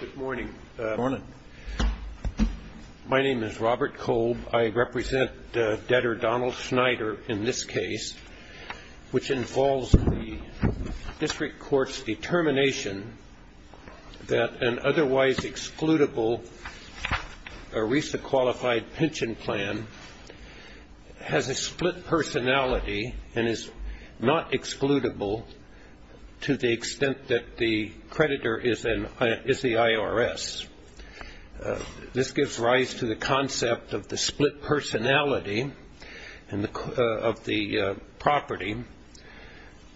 Good morning. My name is Robert Kolb. I represent debtor Donald Schneider in this case which involves the district court's determination that an otherwise excludable ERISA qualified pension plan has a split personality and is not excludable to the extent that the creditor is the IRS. This gives rise to the concept of the split personality of the property.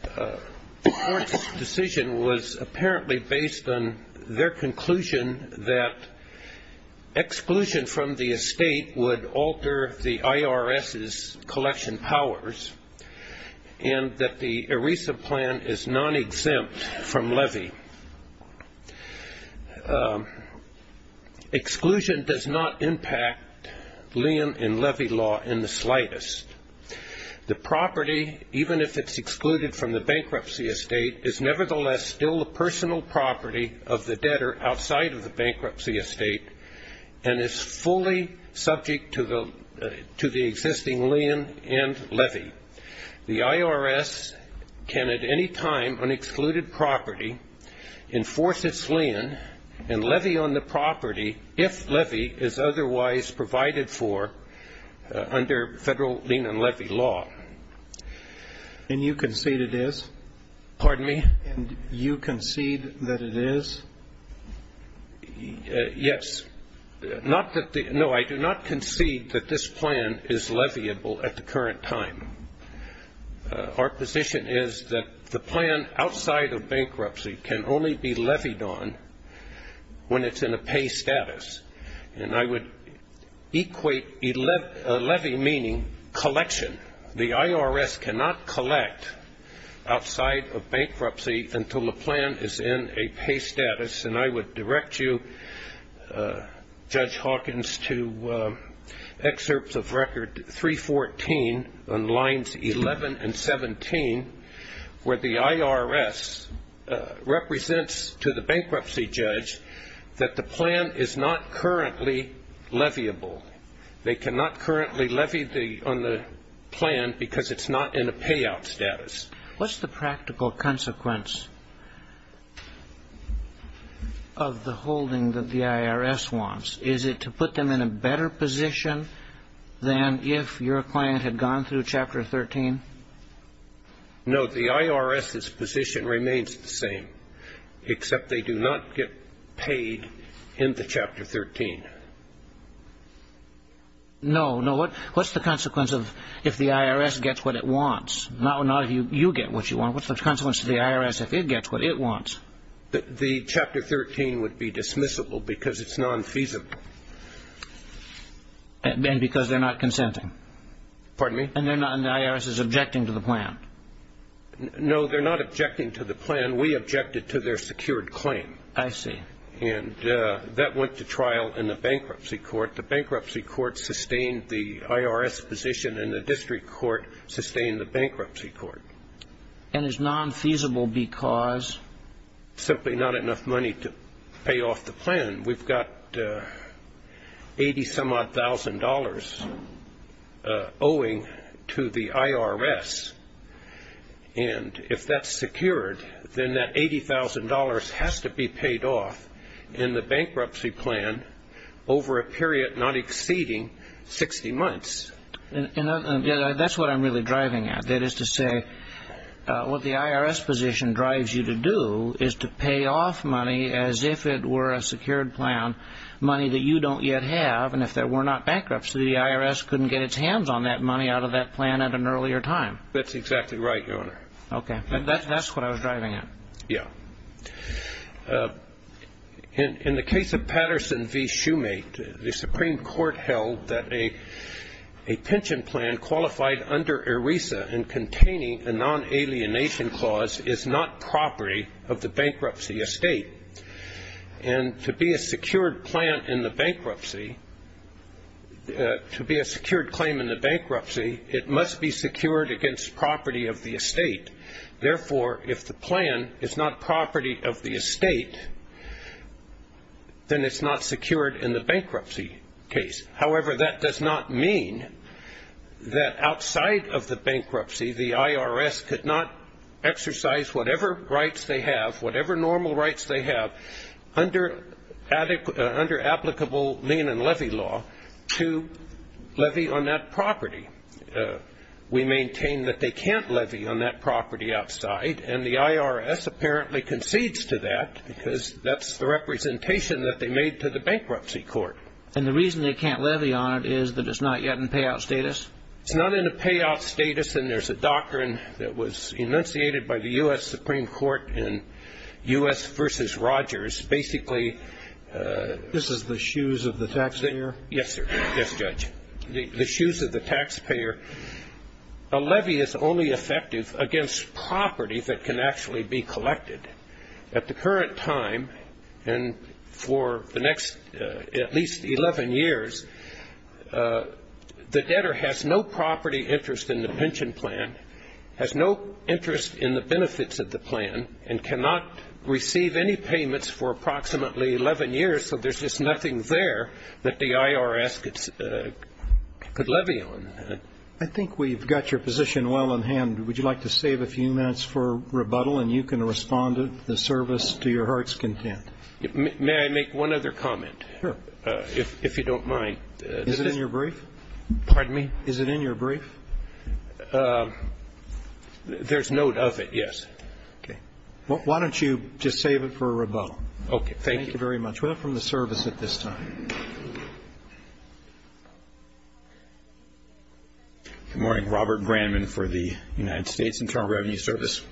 The court's decision was apparently based on their conclusion that exclusion from the estate would alter the IRS's collection powers and that the ERISA plan is non-exempt from levy. Exclusion does not impact lien and levy law in the slightest. The property, even if it's excluded from the bankruptcy estate, is nevertheless still a personal property of the debtor outside of the bankruptcy estate and is fully subject to the existing lien and levy. The IRS can at any time on excluded property enforce its lien and levy on the property if levy is otherwise provided for under federal lien and levy law. And you concede it is? Pardon me? And you concede that it is? Yes. No, I do not concede that this plan is leviable at the current time. Our position is that the plan outside of bankruptcy can only be levied on when it's in a pay status. And I would equate levy meaning collection. The IRS cannot collect outside of bankruptcy until the plan is in a pay status. And I would direct you, Judge Hawkins, to excerpts of record 314 on lines 11 and 17 where the IRS represents to the bankruptcy judge that the plan is not currently leviable. They cannot currently levy on the plan because it's not in a payout status. What's the practical consequence of the holding that the IRS wants? Is it to put them in a better position than if your client had gone through Chapter 13? No. The IRS's position remains the same, except they do not get paid in the Chapter 13. No. No. What's the consequence if the IRS gets what it wants? Not if you get what you want. What's the consequence to the IRS if it gets what it wants? The Chapter 13 would be dismissible because it's non-feasible. And because they're not consenting? Pardon me? And the IRS is objecting to the plan? No, they're not objecting to the plan. We objected to their secured claim. I see. And that went to trial in the bankruptcy court. The bankruptcy court sustained the IRS position and the district court sustained the bankruptcy court. And it's non-feasible because? Simply not enough money to pay off the plan. We've got 80-some-odd thousand dollars owing to the IRS. And if that's secured, then that $80,000 has to be paid off in the bankruptcy plan over a period not exceeding 60 months. That's what I'm really driving at. That is to say, what the IRS position drives you to do is to pay off money as if it were a secured plan, money that you don't yet have. And if there were not bankruptcy, the IRS couldn't get its hands on that money out of that plan at an earlier time. That's exactly right, Your Honor. Okay. That's what I was driving at. Yeah. In the case of Patterson v. Shoemate, the Supreme Court held that a pension plan qualified under ERISA and containing a non-alienation clause is not property of the bankruptcy estate. And to be a secured plan in the bankruptcy, to be a secured claim in the bankruptcy, it must be secured against property of the estate. Therefore, if the plan is not property of the estate, then it's not secured in the bankruptcy case. However, that does not mean that outside of the bankruptcy, the IRS could not exercise whatever rights they have, whatever normal rights they have under applicable lien and levy law to levy on that property. We maintain that they can't levy on that property outside, and the IRS apparently concedes to that because that's the representation that they made to the bankruptcy court. And the reason they can't levy on it is that it's not yet in payout status? It's not in a payout status, and there's a doctrine that was enunciated by the U.S. Supreme Court in U.S. v. Rogers. Basically, this is the shoes of the taxpayer. Yes, sir. Yes, Judge. The shoes of the taxpayer. A levy is only effective against property that can actually be collected. At the current time, and for the next at least 11 years, the debtor has no property interest in the pension plan, has no interest in the benefits of the plan, and cannot receive any payments for approximately 11 years, so there's just nothing there that the IRS could levy on. I think we've got your position well in hand. Would you like to save a few minutes for rebuttal, and you can respond to the service to your heart's content? May I make one other comment? Sure. If you don't mind. Is it in your brief? Pardon me? Is it in your brief? There's note of it, yes. Okay. Why don't you just save it for rebuttal? Okay. Thank you. Thank you very much. We'll have from the service at this time. Good morning. Robert Brandman for the United States Internal Revenue Service.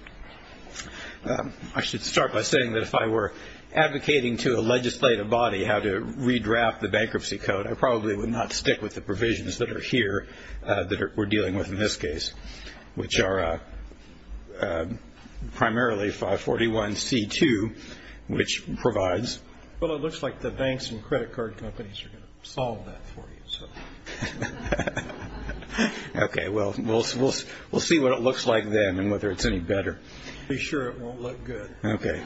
I should start by saying that if I were advocating to a legislative body how to redraft the bankruptcy code, I probably would not stick with the provisions that are here that we're dealing with in this case, which are primarily 541C2, which provides. Well, it looks like the banks and credit card companies are going to solve that for you. Okay. Well, we'll see what it looks like then and whether it's any better. Be sure it won't look good. Okay.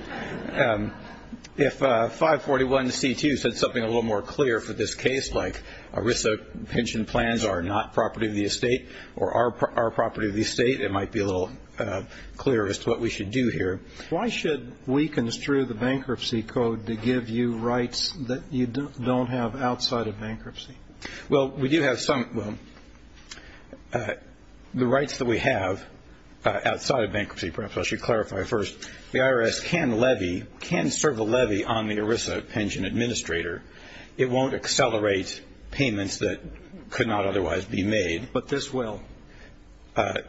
If 541C2 said something a little more clear for this case, like ERISA pension plans are not property of the estate or are property of the estate, it might be a little clearer as to what we should do here. Why should we construe the bankruptcy code to give you rights that you don't have outside of bankruptcy? Well, we do have some. Well, the rights that we have outside of bankruptcy, perhaps I should clarify first, the IRS can levy, can serve a levy on the ERISA pension administrator. It won't accelerate payments that could not otherwise be made. But this will.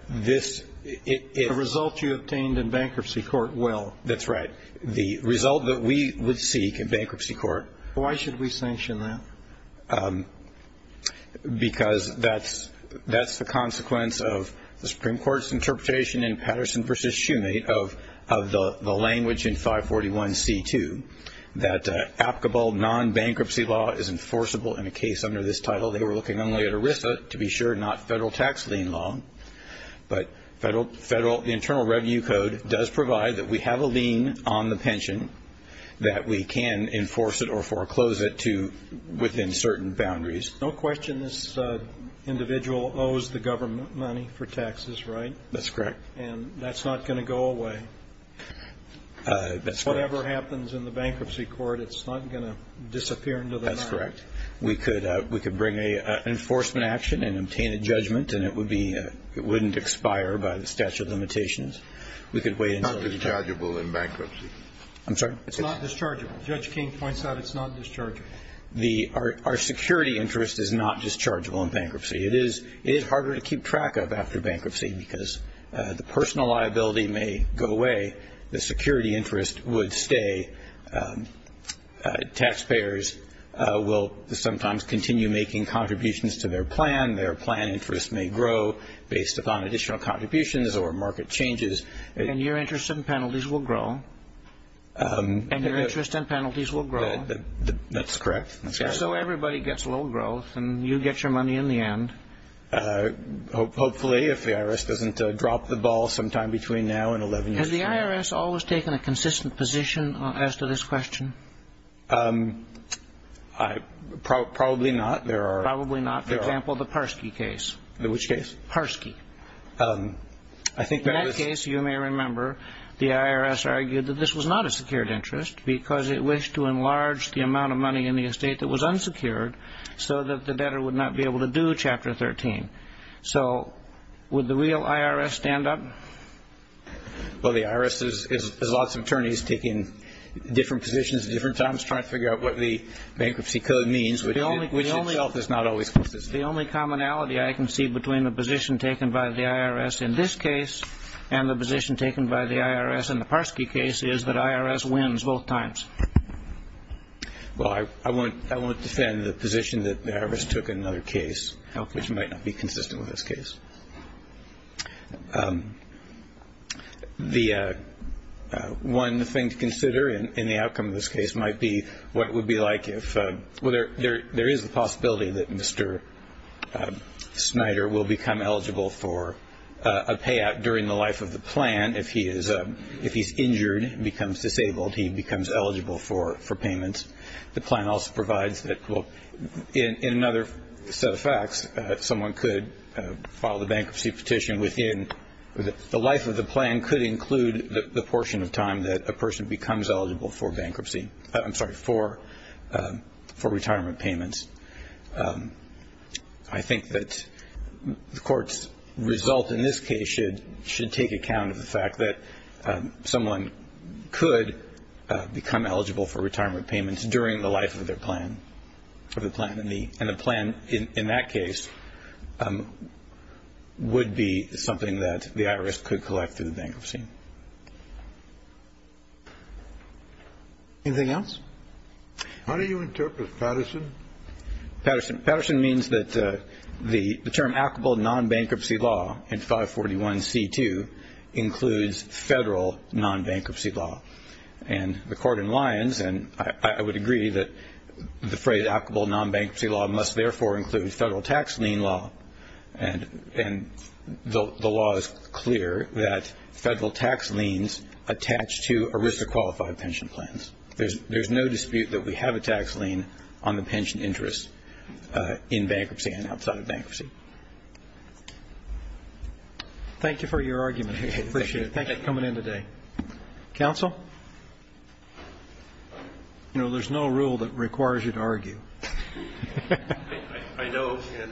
This ‑‑ The result you obtained in bankruptcy court will. That's right. The result that we would seek in bankruptcy court. Why should we sanction that? Because that's the consequence of the Supreme Court's interpretation in Patterson v. Shumate of the language in 541C2, that applicable nonbankruptcy law is enforceable in a case under this title. They were looking only at ERISA, to be sure, not federal tax lien law. But the Internal Revenue Code does provide that we have a lien on the pension, that we can enforce it or foreclose it to within certain boundaries. No question this individual owes the government money for taxes, right? That's correct. And that's not going to go away? That's correct. Whatever happens in the bankruptcy court, it's not going to disappear into the night? That's correct. We could bring an enforcement action and obtain a judgment, and it wouldn't expire by the statute of limitations. We could wait until ‑‑ It's not dischargeable in bankruptcy. I'm sorry? It's not dischargeable. Judge King points out it's not dischargeable. Our security interest is not dischargeable in bankruptcy. It is harder to keep track of after bankruptcy because the personal liability may go away. The security interest would stay. Taxpayers will sometimes continue making contributions to their plan. Their plan interest may grow based upon additional contributions or market changes. And your interest and penalties will grow? And your interest and penalties will grow? That's correct. So everybody gets low growth, and you get your money in the end? Hopefully, if the IRS doesn't drop the ball sometime between now and 11 years from now. Has the IRS always taken a consistent position as to this question? Probably not. Probably not. For example, the Parskey case. Which case? Parskey. In that case, you may remember, the IRS argued that this was not a secured interest because it wished to enlarge the amount of money in the estate that was unsecured so that the debtor would not be able to do Chapter 13. So would the real IRS stand up? Well, the IRS has lots of attorneys taking different positions at different times trying to figure out what the bankruptcy code means, which itself is not always consistent. The only commonality I can see between the position taken by the IRS in this case and the position taken by the IRS in the Parskey case is that IRS wins both times. Well, I won't defend the position that the IRS took in another case, which might not be consistent with this case. One thing to consider in the outcome of this case might be what it would be like if – well, there is the possibility that Mr. Snyder will become eligible for a payout during the life of the plan. If he's injured and becomes disabled, he becomes eligible for payments. The plan also provides that in another set of facts, someone could file the bankruptcy petition within – the life of the plan could include the portion of time that a person becomes eligible for bankruptcy – I'm sorry, for retirement payments. I think that the court's result in this case should take account of the fact that it's during the life of their plan, of the plan, and the plan in that case would be something that the IRS could collect through the bankruptcy. Anything else? How do you interpret Patterson? Patterson means that the term applicable non-bankruptcy law in 541C2 includes federal non-bankruptcy law. And the court in lines, and I would agree that the phrase applicable non-bankruptcy law must therefore include federal tax lien law. And the law is clear that federal tax liens attach to a risk of qualified pension plans. There's no dispute that we have a tax lien on the pension interest in bankruptcy and outside of bankruptcy. Thank you for your argument. I appreciate it. Thank you for coming in today. Counsel? You know, there's no rule that requires you to argue. I know, and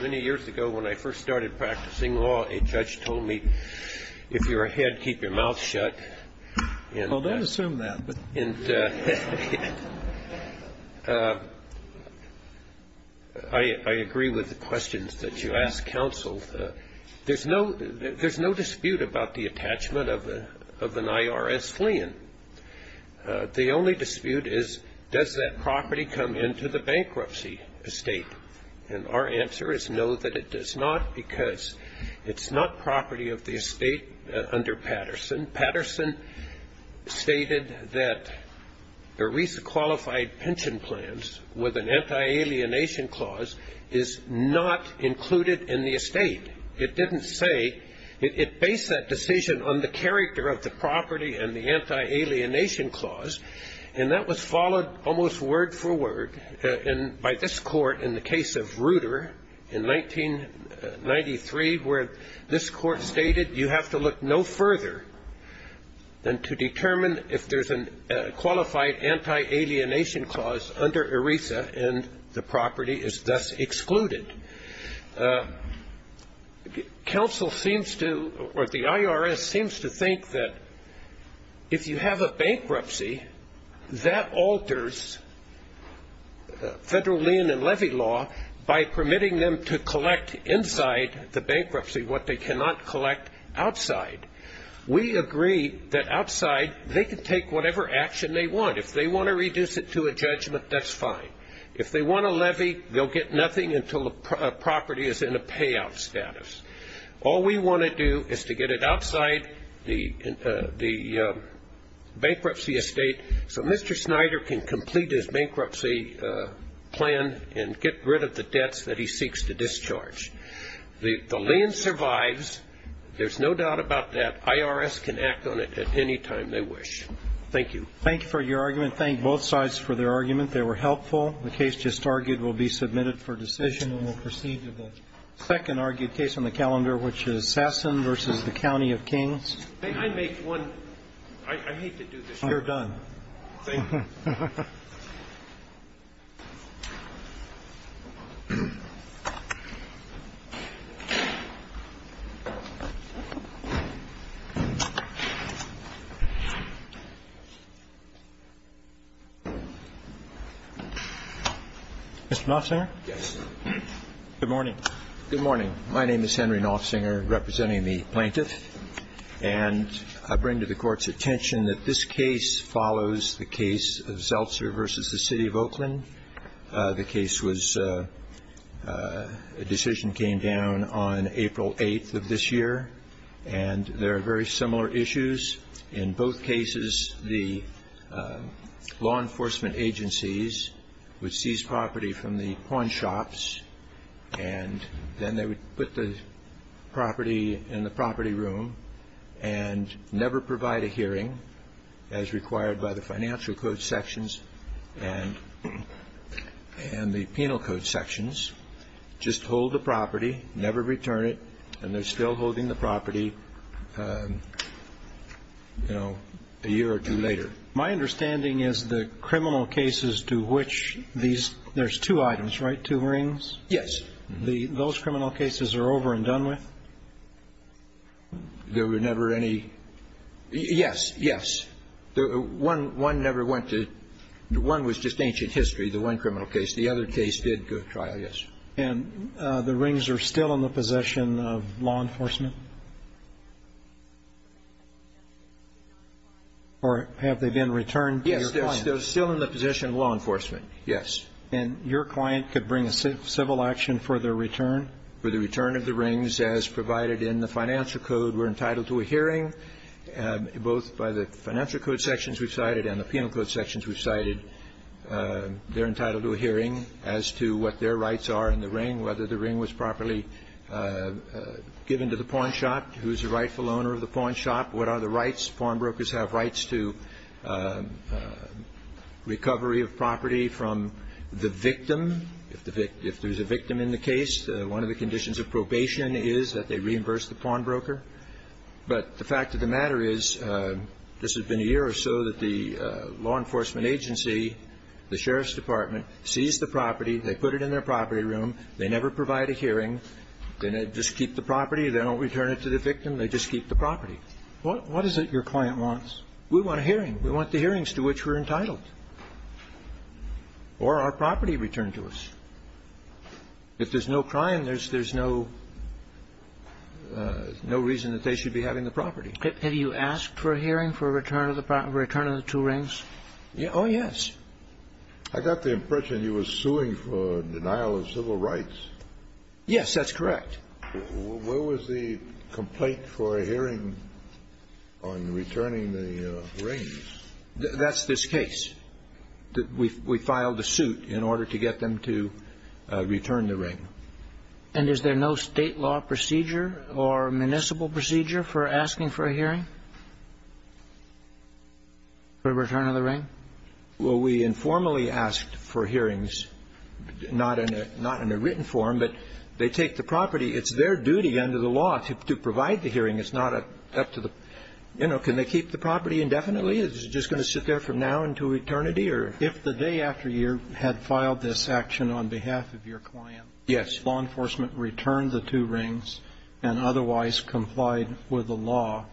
many years ago when I first started practicing law, a judge told me, if you're ahead, keep your mouth shut. Well, don't assume that. I agree with the questions that you ask, counsel. There's no dispute about the attachment of an IRS lien. The only dispute is, does that property come into the bankruptcy estate? And our answer is no, that it does not, because it's not property of the estate under Patterson. Patterson stated that a risk of qualified pension plans with an anti-alienation clause is not included in the estate. It didn't say. It based that decision on the character of the property and the anti-alienation clause, and that was followed almost word for word by this court in the case of Reuter in 1993, where this court stated you have to look no further than to determine if there's a qualified anti-alienation clause under ERISA, and the property is thus excluded. Counsel seems to, or the IRS seems to think that if you have a bankruptcy, that alters federal lien and levy law by permitting them to collect inside the bankruptcy what they cannot collect outside. We agree that outside they can take whatever action they want. If they want to reduce it to a judgment, that's fine. If they want a levy, they'll get nothing until the property is in a payout status. All we want to do is to get it outside the bankruptcy estate so Mr. Snyder can complete his bankruptcy plan and get rid of the debts that he seeks to discharge. The lien survives. There's no doubt about that. IRS can act on it at any time they wish. Thank you. Thank you for your argument. Thank both sides for their argument. They were helpful. The case just argued will be submitted for decision and will proceed to the second argued case on the calendar, which is Sasson v. The County of Kings. May I make one? I hate to do this. You're done. Thank you. Mr. Nofsinger? Yes. Good morning. Good morning. My name is Henry Nofsinger, representing the plaintiff. And I bring to the Court's attention that this case follows the case of Zeltzer v. The City of Oakland. The case was a decision came down on April 8th of this year, and there are very similar issues. In both cases, the law enforcement agencies would seize property from the pawn shops, and then they would put the property in the property room and never provide a hearing, as required by the financial code sections and the penal code sections, just hold the property, never return it, and they're still holding the property a year or two later. My understanding is the criminal cases to which these – there's two items, right, two rings? Yes. Those criminal cases are over and done with? There were never any – yes, yes. One never went to – one was just ancient history, the one criminal case. The other case did go to trial, yes. And the rings are still in the possession of law enforcement? Or have they been returned to your client? Yes. They're still in the possession of law enforcement, yes. And your client could bring a civil action for their return? For the return of the rings, as provided in the financial code, we're entitled to a hearing, both by the financial code sections we've cited and the penal code sections we've cited. They're entitled to a hearing as to what their rights are in the ring, whether the ring was properly given to the pawn shop, who's the rightful owner of the pawn shop, what are the rights. Pawnbrokers have rights to recovery of property from the victim. If there's a victim in the case, one of the conditions of probation is that they reimburse the pawnbroker. But the fact of the matter is this has been a year or so that the law enforcement agency, the sheriff's department, sees the property. They put it in their property room. They never provide a hearing. They just keep the property. They don't return it to the victim. They just keep the property. What is it your client wants? We want a hearing. We want the hearings to which we're entitled. Or our property returned to us. If there's no crime, there's no reason that they should be having the property. Have you asked for a hearing for return of the two rings? Oh, yes. I got the impression you were suing for denial of civil rights. Yes, that's correct. Where was the complaint for a hearing on returning the rings? That's this case. We filed a suit in order to get them to return the ring. And is there no State law procedure or municipal procedure for asking for a hearing for return of the ring? Well, we informally asked for hearings. Not in a written form, but they take the property. It's their duty under the law to provide the hearing. It's not up to the, you know, can they keep the property indefinitely? Is it just going to sit there from now until eternity? If the day after you had filed this action on behalf of your client, law enforcement returned the two rings and otherwise complied with the law,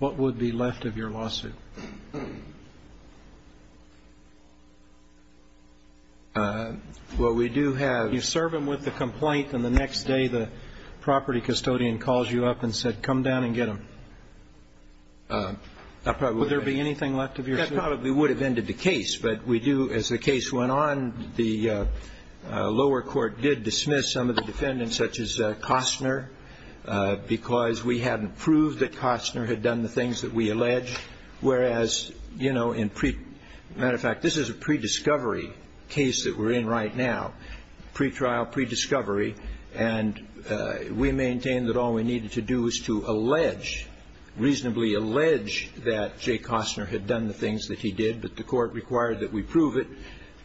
what would be left of your lawsuit? Well, we do have You serve them with the complaint, and the next day the property custodian calls you up and said, come down and get them. Would there be anything left of your suit? That probably would have ended the case. But we do, as the case went on, the lower court did dismiss some of the defendants, such as Costner, because we hadn't proved that Costner had done the things that we alleged Whereas, you know, in pre- Matter of fact, this is a pre-discovery case that we're in right now. Pre-trial, pre-discovery. And we maintain that all we needed to do was to allege, reasonably allege that Jay Costner had done the things that he did, but the court required that we prove it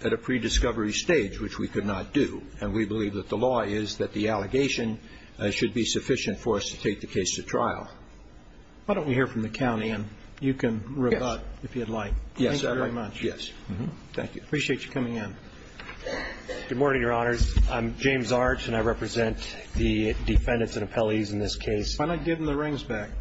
at a pre-discovery stage, which we could not do. And we believe that the law is that the allegation should be sufficient for us to take the case to trial. Why don't we hear from the county, and you can rebut if you'd like. Yes. Thank you very much. Yes. Thank you. Appreciate you coming in. Good morning, Your Honors. I'm James Arch, and I represent the defendants and appellees in this case. Why not give them the rings back?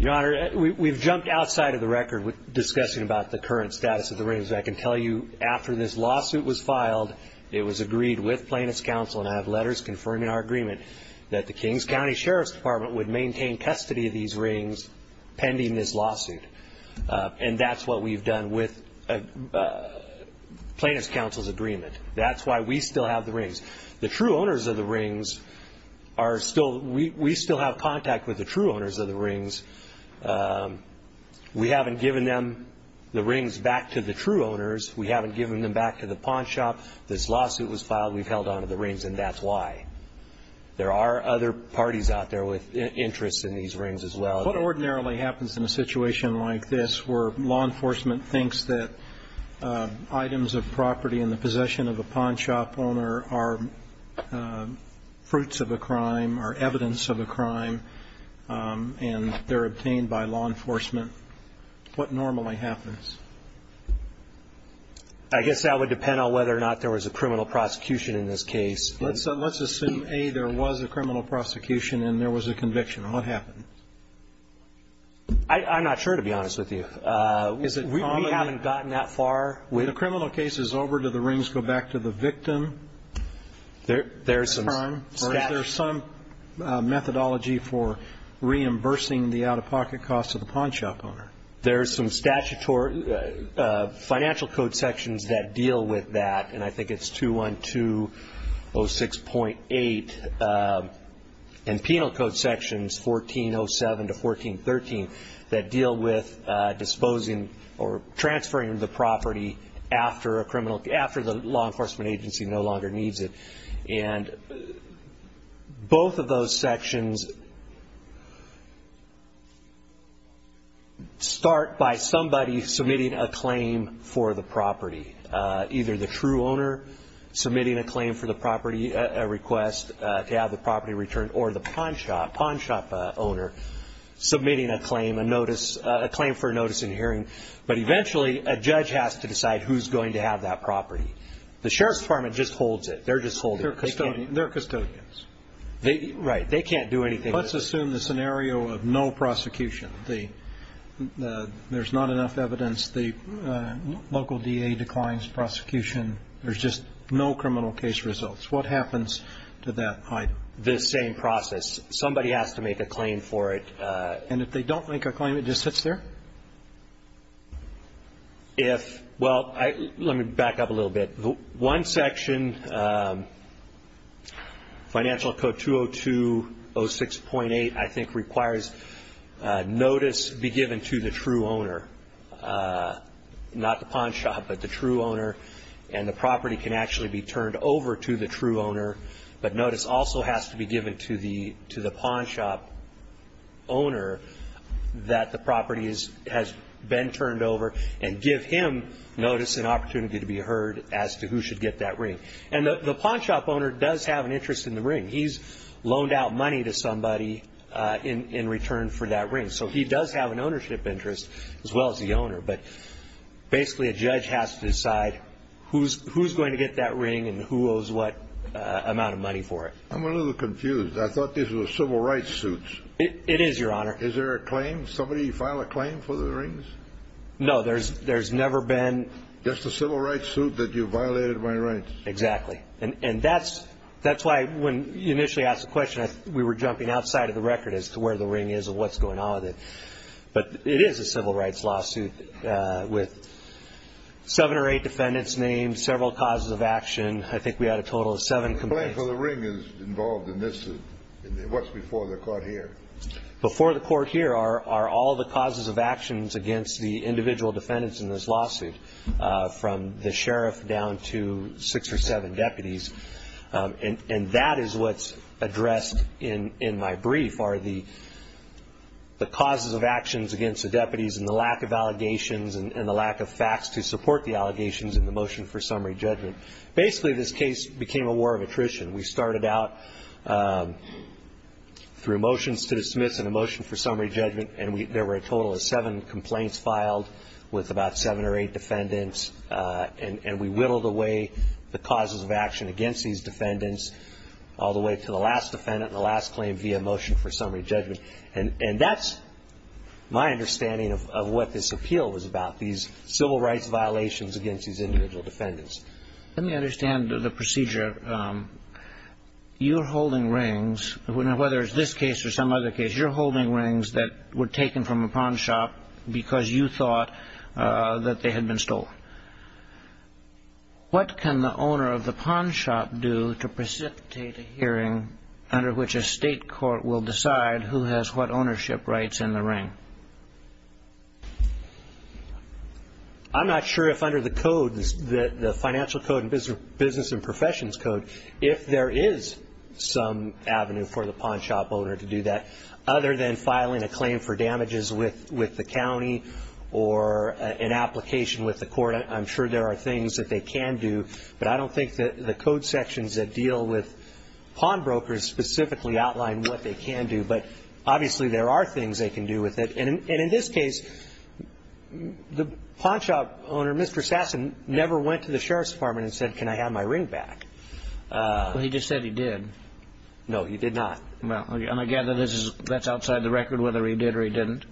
Your Honor, we've jumped outside of the record with discussing about the current status of the rings. I can tell you after this lawsuit was filed, it was agreed with plaintiff's counsel, and I have letters confirming our agreement that the Kings County Sheriff's Department would maintain custody of these rings pending this lawsuit. And that's what we've done with plaintiff's counsel's agreement. That's why we still have the rings. The true owners of the rings are still we still have contact with the true owners of the rings. We haven't given them the rings back to the true owners. We haven't given them back to the pawn shop. This lawsuit was filed. We've held on to the rings, and that's why. There are other parties out there with interest in these rings as well. What ordinarily happens in a situation like this where law enforcement thinks that items of property in the possession of a pawn shop owner are fruits of a crime or evidence of a crime, and they're obtained by law enforcement? What normally happens? I guess that would depend on whether or not there was a criminal prosecution in this case. Let's assume, A, there was a criminal prosecution and there was a conviction. What happened? I'm not sure, to be honest with you. We haven't gotten that far. When the criminal case is over, do the rings go back to the victim? There is some methodology for reimbursing the out-of-pocket costs of the pawn shop owner. There are some financial code sections that deal with that, and I think it's 212.06.8, and penal code sections, 14.07 to 14.13, that deal with disposing or transferring the property after the law enforcement agency no longer needs it. And both of those sections start by somebody submitting a claim for the property, either the true owner submitting a claim for the property, a request to have the property returned, or the pawn shop owner submitting a claim, a claim for a notice and hearing. But eventually a judge has to decide who's going to have that property. The Sheriff's Department just holds it. They're just holding it. They're custodians. Right. They can't do anything. Let's assume the scenario of no prosecution. There's not enough evidence. The local DA declines prosecution. There's just no criminal case results. What happens to that item? The same process. Somebody has to make a claim for it. And if they don't make a claim, it just sits there? Well, let me back up a little bit. One section, Financial Code 202-06.8, I think, requires notice be given to the true owner. Not the pawn shop, but the true owner. And the property can actually be turned over to the true owner. But notice also has to be given to the pawn shop owner that the property has been turned over and give him notice and opportunity to be heard as to who should get that ring. And the pawn shop owner does have an interest in the ring. He's loaned out money to somebody in return for that ring. So he does have an ownership interest as well as the owner. But basically a judge has to decide who's going to get that ring and who owes what amount of money for it. I'm a little confused. I thought this was a civil rights suit. It is, Your Honor. Is there a claim? Did somebody file a claim for the rings? No, there's never been. Just a civil rights suit that you violated my rights. Exactly. And that's why when you initially asked the question, we were jumping outside of the record as to where the ring is and what's going on with it. But it is a civil rights lawsuit with seven or eight defendants named, several causes of action. I think we had a total of seven complaints. The claim for the ring is involved in this suit. What's before the court here? Before the court here are all the causes of actions against the individual defendants in this lawsuit, from the sheriff down to six or seven deputies. And that is what's addressed in my brief, are the causes of actions against the deputies and the lack of allegations and the lack of facts to support the allegations in the motion for summary judgment. Basically this case became a war of attrition. We started out through motions to dismiss and a motion for summary judgment, and there were a total of seven complaints filed with about seven or eight defendants. And we whittled away the causes of action against these defendants all the way to the last defendant and the last claim via motion for summary judgment. And that's my understanding of what this appeal was about, these civil rights violations against these individual defendants. Let me understand the procedure. You're holding rings, whether it's this case or some other case, you're holding rings that were taken from a pawn shop because you thought that they had been stolen. What can the owner of the pawn shop do to precipitate a hearing under which a state court will decide who has what ownership rights in the ring? I'm not sure if under the code, the financial code and business and professions code, if there is some avenue for the pawn shop owner to do that. Other than filing a claim for damages with the county or an application with the court, I'm sure there are things that they can do, but I don't think that the code sections that deal with pawnbrokers specifically outline what they can do. But obviously, there are things they can do with it. And in this case, the pawn shop owner, Mr. Sasson, never went to the sheriff's department and said, can I have my ring back? Well, he just said he did. No, he did not. And again, that's outside the record whether he did or he didn't.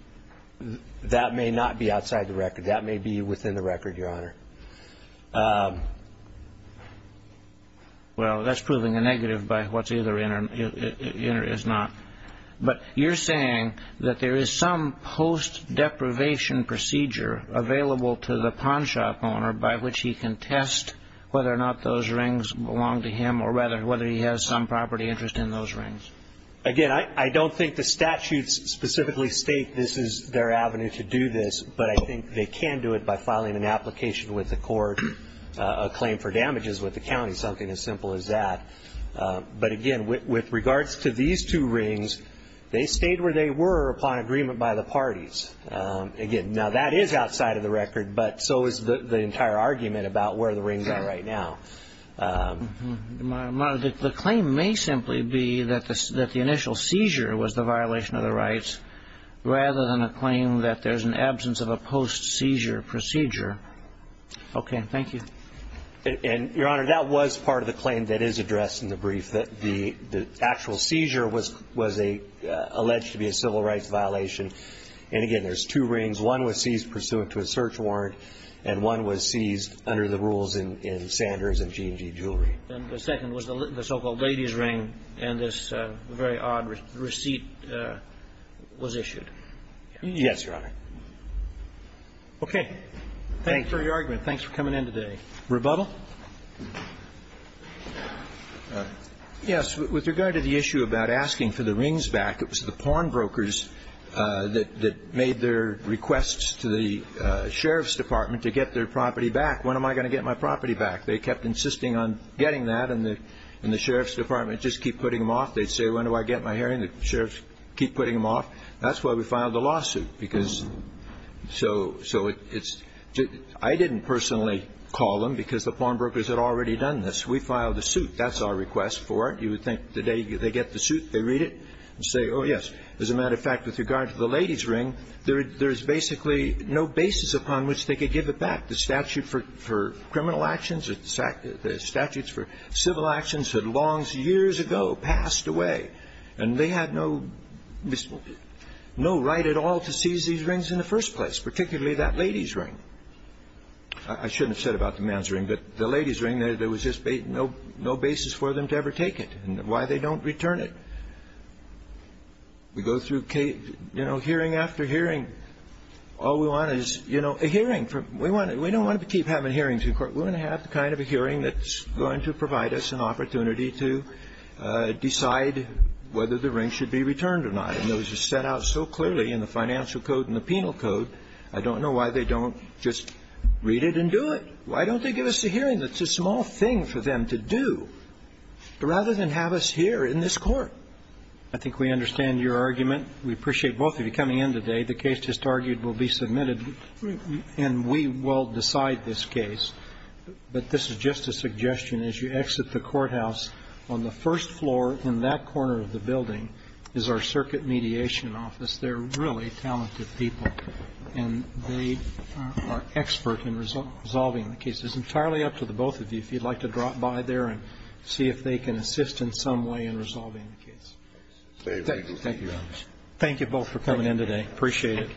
That may not be outside the record. That may be within the record, Your Honor. Well, that's proving a negative by what's either in or is not. But you're saying that there is some post-deprivation procedure available to the pawn shop owner by which he can test whether or not those rings belong to him or whether he has some property interest in those rings. Again, I don't think the statutes specifically state this is their avenue to do this, but I think they can do it by filing an application with the court, a claim for damages with the county, something as simple as that. But again, with regards to these two rings, they stayed where they were upon agreement by the parties. Again, now that is outside of the record, but so is the entire argument about where the rings are right now. The claim may simply be that the initial seizure was the violation of the rights rather than a claim that there's an absence of a post-seizure procedure. Okay. Thank you. And, Your Honor, that was part of the claim that is addressed in the brief, that the actual seizure was alleged to be a civil rights violation. And again, there's two rings. One was seized pursuant to a search warrant, and one was seized under the rules in Sanders and G&G Jewelry. And the second was the so-called ladies' ring, and this very odd receipt was issued. Yes, Your Honor. Okay. Thank you. Thanks for your argument. Thanks for coming in today. Rebuttal? Yes. With regard to the issue about asking for the rings back, it was the pawnbrokers that made their requests to the sheriff's department to get their property back. When am I going to get my property back? They kept insisting on getting that, and the sheriff's department would just keep putting them off. They'd say, when do I get my hearing? The sheriffs would keep putting them off. That's why we filed a lawsuit, because so it's – I didn't personally call them, because the pawnbrokers had already done this. We filed a suit. That's our request for it. You would think the day they get the suit, they read it and say, oh, yes. As a matter of fact, with regard to the ladies' ring, there is basically no basis upon which they could give it back. The statute for criminal actions or the statutes for civil actions had long, years ago, passed away. And they had no right at all to seize these rings in the first place, particularly that ladies' ring. I shouldn't have said about the men's ring, but the ladies' ring, there was just no basis for them to ever take it and why they don't return it. We go through hearing after hearing. All we want is, you know, a hearing. We don't want to keep having hearings in court. We want to have the kind of a hearing that's going to provide us an opportunity to decide whether the ring should be returned or not. And it was just set out so clearly in the financial code and the penal code. I don't know why they don't just read it and do it. Why don't they give us a hearing? That's a small thing for them to do, rather than have us here in this Court. I think we understand your argument. We appreciate both of you coming in today. The case just argued will be submitted, and we will decide this case. But this is just a suggestion. As you exit the courthouse, on the first floor, in that corner of the building, is our circuit mediation office. They're really talented people, and they are expert in resolving the case. It's entirely up to the both of you if you'd like to drop by there and see if they can assist in some way in resolving the case. Thank you very much. Thank you both for coming in today. Appreciate it.